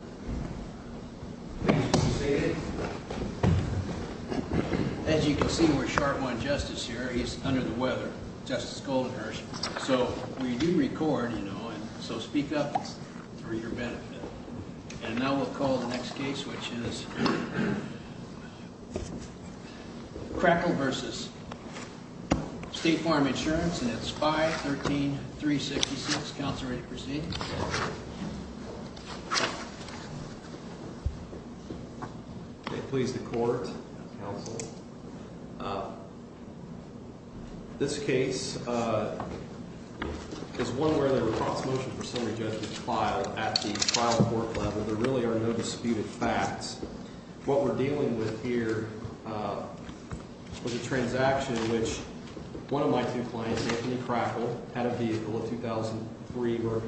you You can see we're sh here. He's under the weat So we do record you know. speak up for your benefit the next case, which is C the court counsel. Uh, th case. Uh, there's one wher for summary judgment file level. There really are n What we're dealing with h had a vehicle of 2000 3 or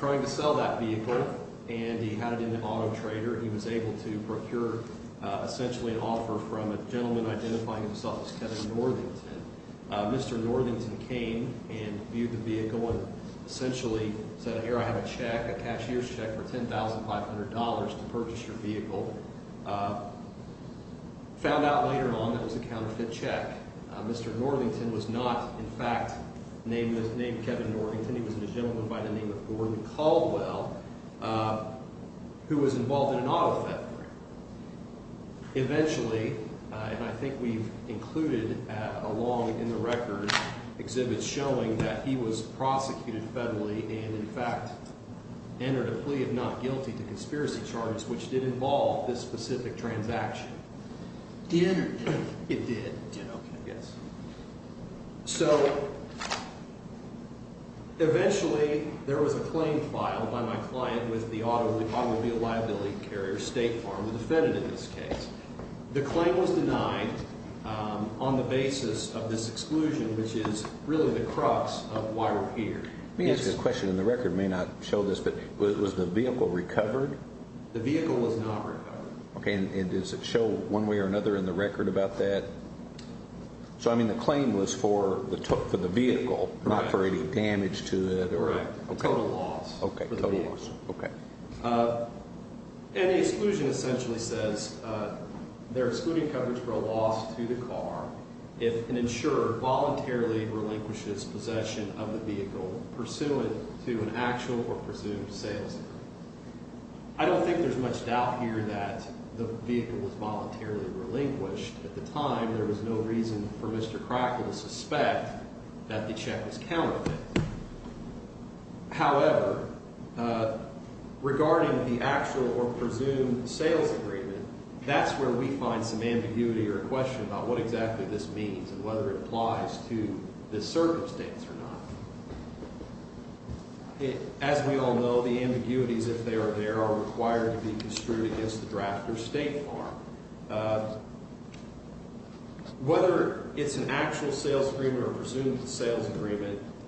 to sell that vehicle and trader. He was able to pr offer from a gentleman id himself. It's Kevin North came and viewed the vehic here. I have a check, a c $10,500 to purchase your Northington was not in fa Kevin Northington. He was the name of Gordon Caldwe in an auto theft. Eventua along in the record exhib he was prosecuted federall a plea of not guilty to c which did involve this sp dinner. It did. Yes. So e liability carrier state f on the basis of this exc the crux of why we're her in the record may not sho the vehicle recovered? Th recovered. Okay. And does another in the record abo claim was for the took fo for any damage to the ora essentially says, uh, the a loss to the car. If an relinquishes possession o to an actual or presumed there's much doubt here t voluntarily relinquished. was no reason for Mr Crack the check was counted. Ho agreement, that's where w or a question about what and whether it applies to if they are, there are re against the draft or stat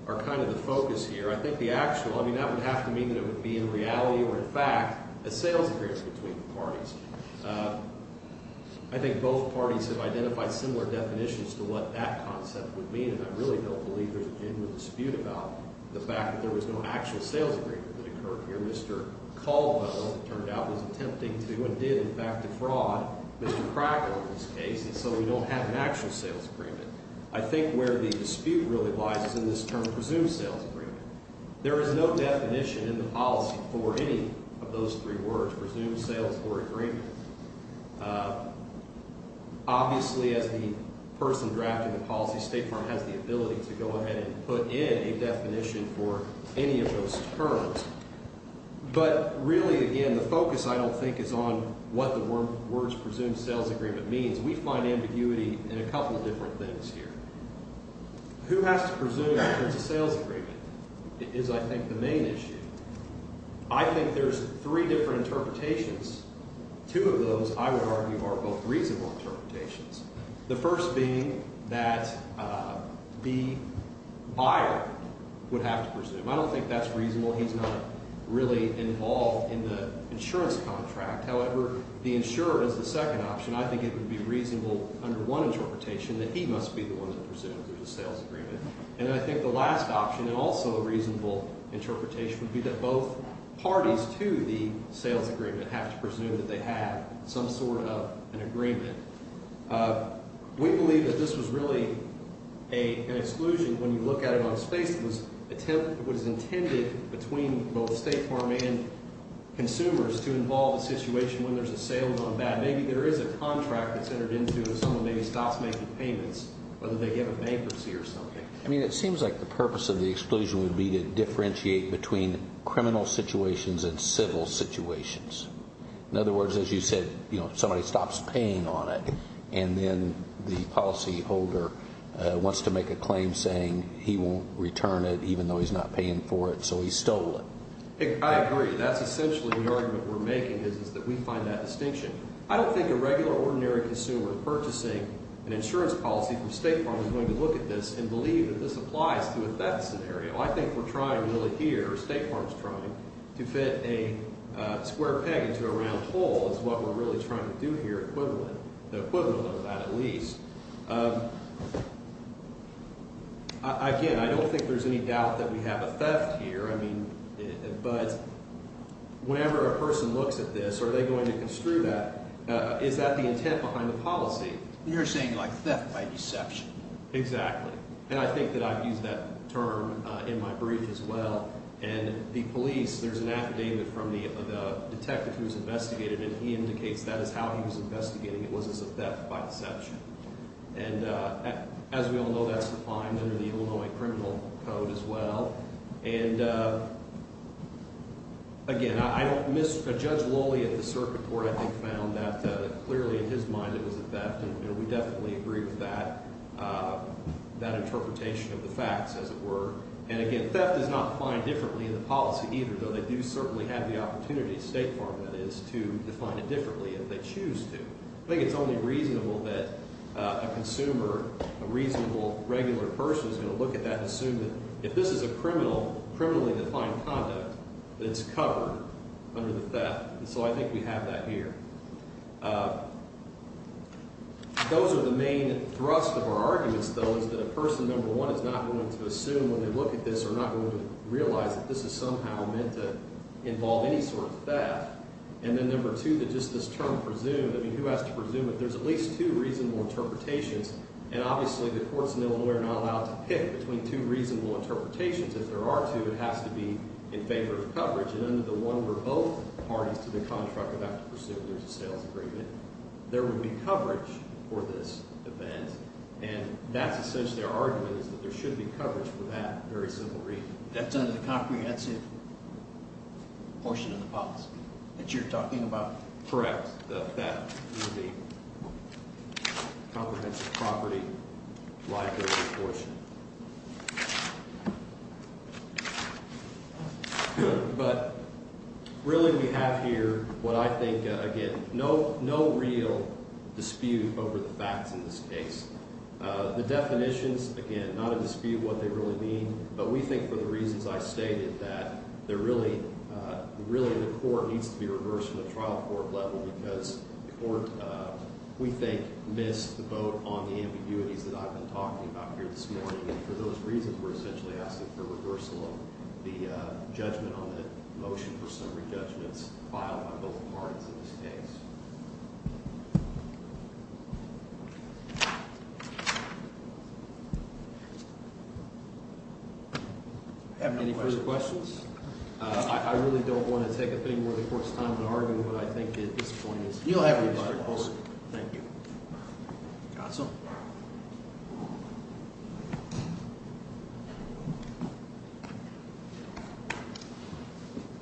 are kind of the focus her be in reality or in fact, parties. Uh, I think both similar definitions to wh mean. And I really don't dispute about the fact th sales agreement that occu turned out was attempting to fraud. Mr Crackle in t we don't have an actual s where the dispute really presumed sales agreement. in the policy for any of or agreement. Uh, obvious drafting the policy, stat to go ahead and put in a of those terms. But reall sales agreement means we to presume in terms of sa the main issue. I think t of those, I would argue a interpretations. The firs buyer would have to presu that's reasonable. He's n in the insurance contract is the second option. I t under one interpretation the one that presumes the And I think the last opti interpretation would be t they have some sort of an believe that this was rea when you look at it on sp is intended between both to involve the situation on that. Maybe there is a into someone maybe stops they give a bankruptcy or seems like the purpose of be to differentiate betwe and civil situations. In you said, you know, someb a claim saying he won't r he's not paying for it. S that's essentially the ar that we find that distinc a regular ordinary consum policy from state farm is this and believe that thi scenario. I think we're t trying to fit a square pe is what we're really tryi the equivalent of that. A here. I mean, but whenever this, are they going to c the intent behind the pol like theft by deception? Exactly. And I think that in my brief as well. And an affidavit from the dete and he indicates that is It was a theft by decepti know, that's defined in t code as well. And uh, aga lowly at the circuit court clearly in his mind, it wa agree with that. Uh, that facts as it were. And aga differently in the policy do certainly have the opp that is to define it diff to. I think it's only rea a reasonable regular pers that and assume that if t to find conduct, it's cov And so I think we have th are the main thrust of ou that a person number one assume when they look at that this is somehow ment theft. And then number tw presumed. I mean, who has at least two reasonable i obviously the courts in I to pick between two reaso if there are two, it has in favor of coverage and both parties to the contr there's a sales agreement for this event. And that' is that there should be c simple reason that's in t in the policy that you're But really we have here w no, no real dispute over case. The definitions aga what they really mean. Bu reasons I stated that the the court needs to be rev level because the court w vote on the ambiguities t about here this morning. for those reasons were es the reversal of the judgm for summary judgments fil want to take up any more to argue. But I think it'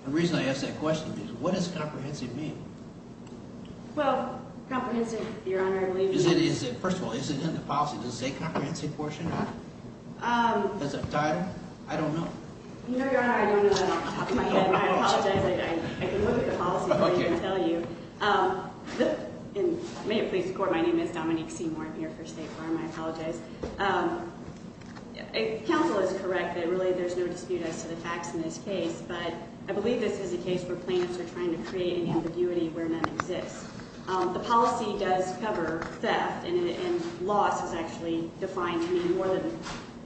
the reason I asked that comprehensive mean? Well I believe it is. First of the policy does a compreh as a title? I don't know. I don't know. I apologize I can tell you. Um, and m My name is Dominique Seam here for State Farm. I ap is correct that really th as to the facts in this c this is a case where plan to create an ambiguity wh policy does cover theft a defined to mean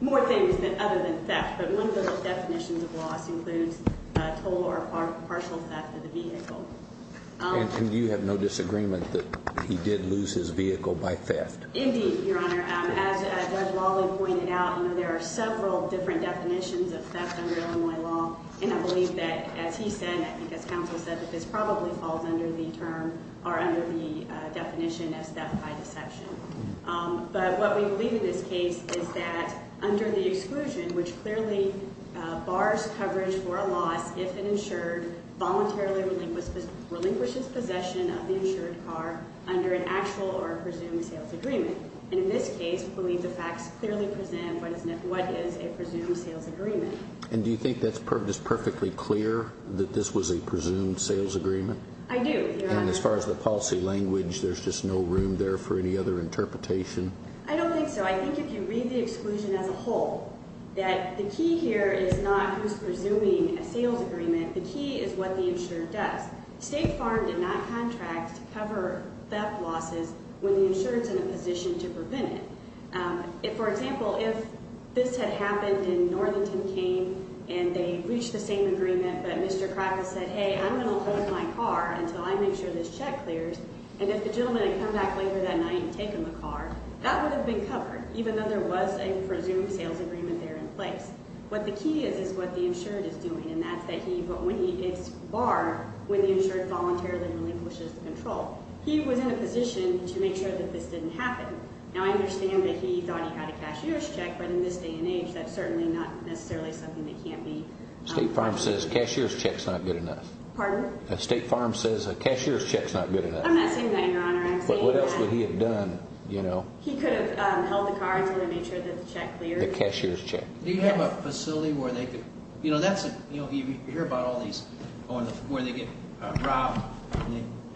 more than than theft. But one of th of loss includes total or of the vehicle. And you h that he did lose his vehic your honor. As well, he p there are several differe under Illinois law. And I said, I think as counsel falls under the term are of step by deception. Um, this case is that under t clearly bars coverage for voluntarily relinquished, relinquishes possession o under an actual or presum And in this case, we bel present what is what is a And do you think that's p clear that this was a pres I do. And as far as the p just no room there for an I don't think so. I think as a whole, that the key presuming a sales agreeme is what the insured does. not contract to cover the insurance in a position t for example, if this had came and they reached the Mr Kravis said, hey, I'm until I make sure this ch the gentleman and come ba and take him a car that w even though there was a p there in place. What the the insured is doing. And it's bar when the insured pushes control. He was in sure that this didn't hap that he thought he had a in this day and age. That something that can't be s check is not good enough. farm says a cashier's che I'm not saying that your he had done? You know, he car to make sure that the cashier's check. Do you h they could, you know, tha about all these or where they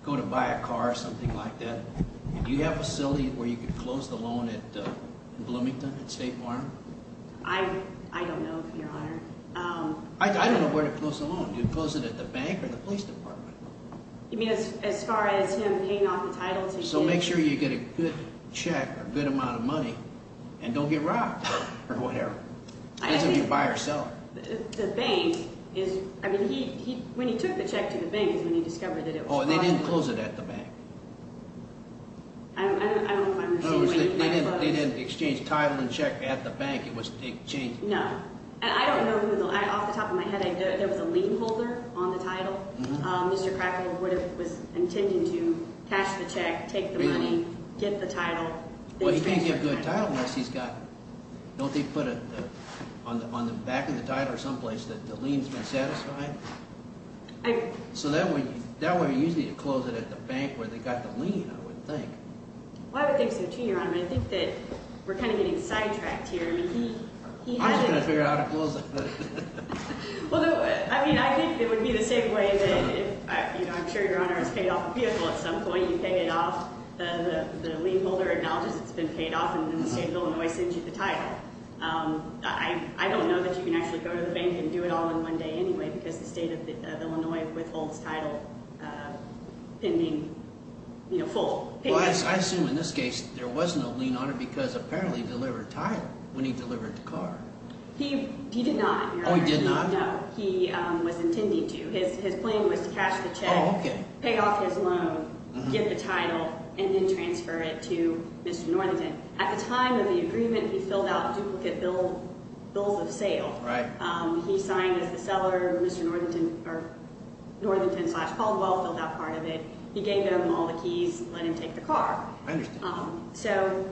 go to buy a car or s Do you have a silly where loan at Bloomington State know, your honor. Um, I d close alone. You close it Police Department. You me paying off the title. So a good check, a good amou and don't get robbed or w by herself. The bank is, took the check to the ban it was, they didn't close I don't, I don't, they di title and check at the ba No, I don't know who off there was a lien holder o cracker would have was in to cash the check, take title. Well, you can't ge he's got, don't they put the title or someplace th satisfied. So that way, t to close it at the bank w lien, I would think. I wo your honor. I think that sidetracked here. I mean, figure out how to close t I think it would be the s I'm sure your honor is pa point. You pay it off. Th acknowledges it's been pa Illinois sends you the ti that you can actually go it all in one day anyway of Illinois withholds tit full. I assume in this ca lien on it because appare when he delivered the car Oh, he did not. No, he wa was to cash the check, pa the title and then transf At the time of the agreeme duplicate bill bills of s as the seller, Mr. Northe called, well filled out p gave him all the keys, le I understand. So,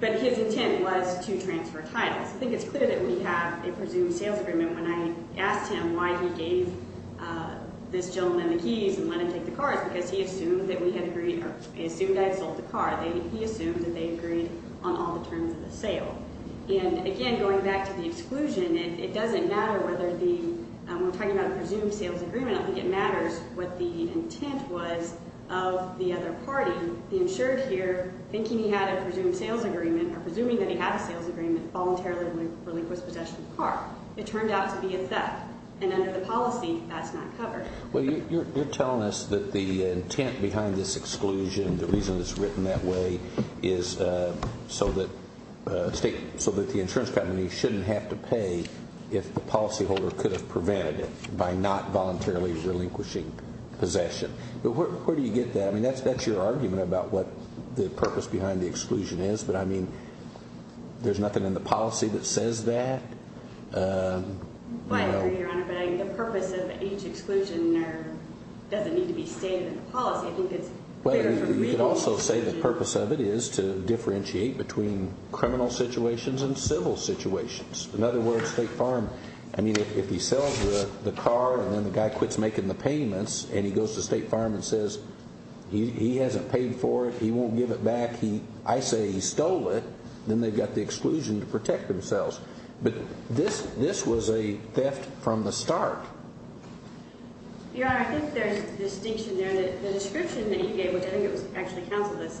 but his titles. I think it's clea sales agreement. When I a him why he gave uh this g and let him take the car that we had agreed or I a the car. He assumed that the terms of the sale. An back to the exclusion, it the we're talking about p I think it matters what t other party, the insured had a presumed sales agre that he had a sales agree relinquished possession o to be a theft and under t not covered. You're telli behind this exclusion. Th that way is uh so that st company shouldn't have to holder could have prevent relinquishing possession. get that? I mean, that's about what the purpose be is. But I mean, there's n that says that, uh, the p exclusion doesn't need to I think it's also say the is to differentiate betwe and civil situations. In farm. I mean, if he sells guy quits making the paym the state farm and says h it, he won't give it back themselves. But this, thi the start. Yeah, I think there, the description th it was actually counsel t this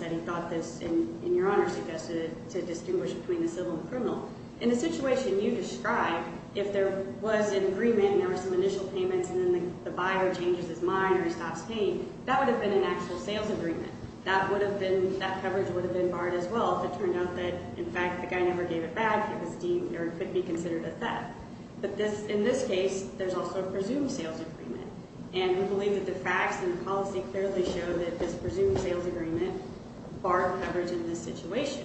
and your honor sugge between the civil and cri you describe if there was some initial payments and his mind or he stops payi been an actual sales agre been, that coverage would as well. If it turned out the guy never gave it back be considered a theft. Bu there's also a presumed s believe that the facts an show that this presumed s coverage in this situatio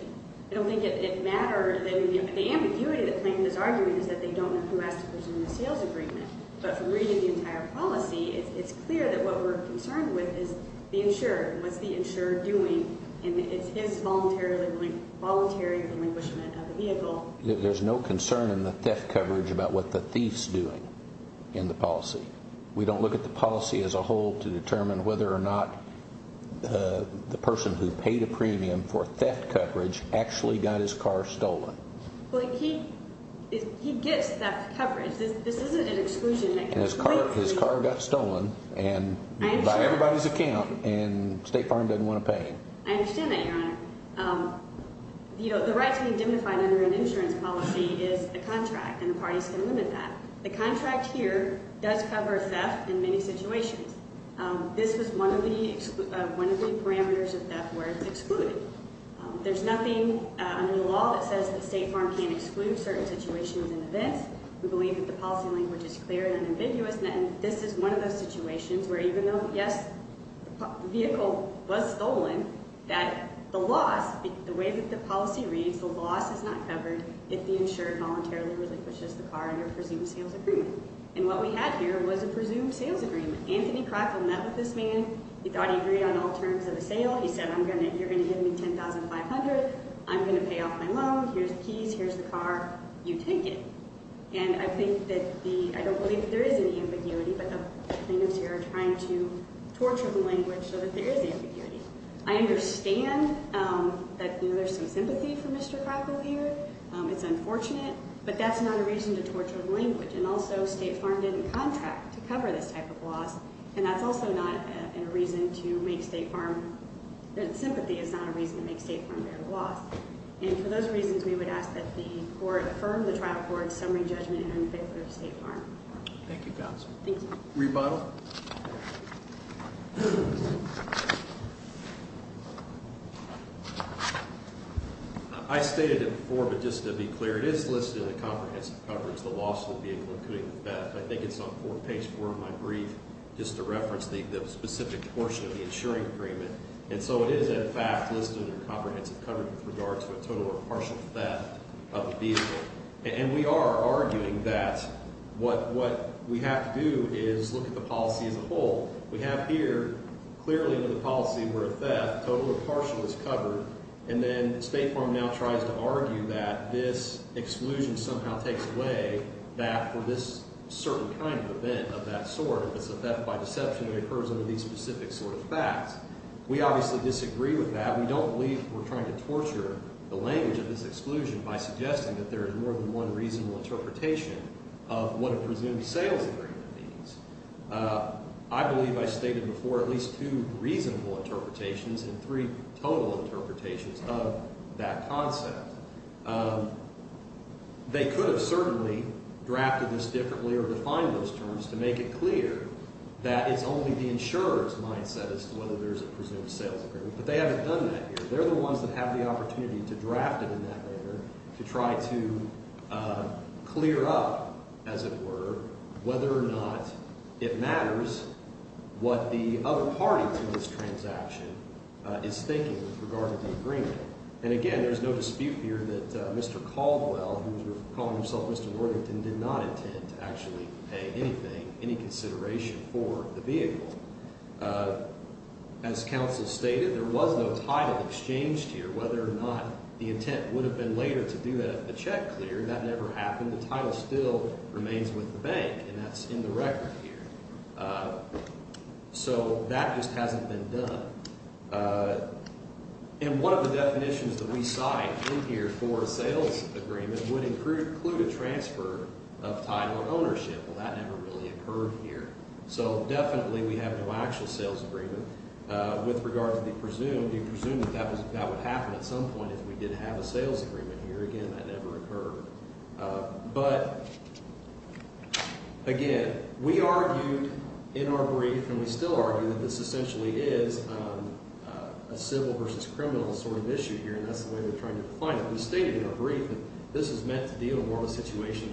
it matter. The ambiguity is that they don't know w policy, it's clear that w with is the insured. What doing and it's his volunte relinquishment of the vee concern in the theft cove thieves doing in the polic at the policy as a whole or not. Uh, the person wh for theft coverage actuall Well, he, he gets that co an exclusion. His car, hi and by everybody's accoun farm doesn't want to pay. your honor. Um, you know, under an insurance policy parties can limit that. T cover theft in many situa one of the, one of the pa were excluded. There's no that says the state farm situations and events. We language is clear and amb is one of those situation yes, vehicle was stolen t way that the policy reads if the insured voluntaril the car under presumed sa we had here was a presumed Anthony crackle met with he agreed on all terms of I'm going to, you're goin I'm going to pay off my l keys, here's the car, you think that the, I don't b torture the language so t I understand, um, that th for Mr Crackle here. It's that's not a reason to to and also state farm didn' this type of loss. And th reason to make state farm a reason to make state fa for those reasons we would affirmed the trial court and unfavorable state far Thank you. Rebuttal. I sta just to be clear, it is l coverage. The loss of the that I think it's on four brief just to reference t of the insuring agreement in fact listed in their c with regards to a total o of the vehicle. And we ar what we have to do is loo as a whole. We have here where a theft total or pa then state farm now tries exclusion somehow takes a kind of event of that sor deception occurs under th of facts. We obviously di We don't believe we're tr the language of this exc that there is more than o of what a presumed sales I stated before, at least and three total interpret concept. Um, they could h this differently or defin make it clear that it's o as to whether there's a p But they haven't done tha ones that have the opport that later to try to clea or not. It matters what t this transaction is think the agreement. And again, here that Mr Caldwell, wh Mr Worthington did not in anything, any considerati Uh, as council stated, th exchanged here, whether o have been later to do tha never happened. The title the bank and that's in th that just hasn't been done that we saw in here for s would include a transfer that never really occurre we have no actual sales a to be presumed, you presu would happen at some point a sales agreement here. A Uh, but again, we argued we still argue that this a civil versus criminal s and that's the way they'r We stated in our brief th deal in more of a situatio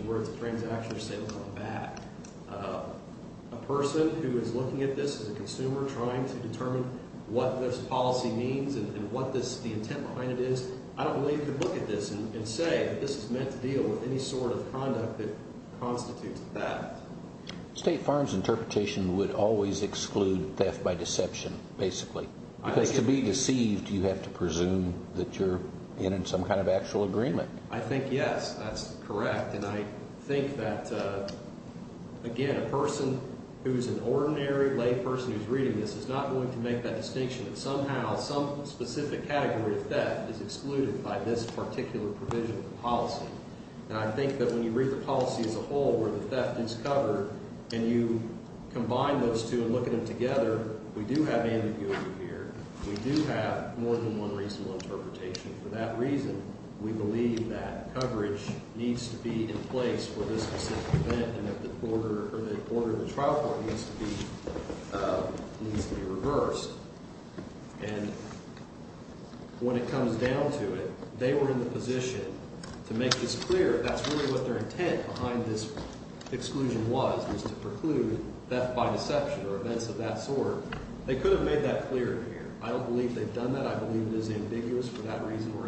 who is looking at this as to determine what this po this, the intent behind i to look at this and say t deal with any sort of con that state farms interpre exclude death by deceptio to be deceived. You have you're in some kind of ac yes, that's correct. And that, uh, again, a person lay person who's reading to make that distinction. specific category of thef this particular provision I think that when you rea where the theft is covere those two and look at them have ambiguity here. We d one reasonable interpretat we believe that coverage needs to be in place for and that the border or th court needs to be, uh, n And when it comes down to position to make this cle their intent behind this to preclude that by decep that sort. They could have here. I don't believe the believe it is ambiguous f we're asking for. Thank y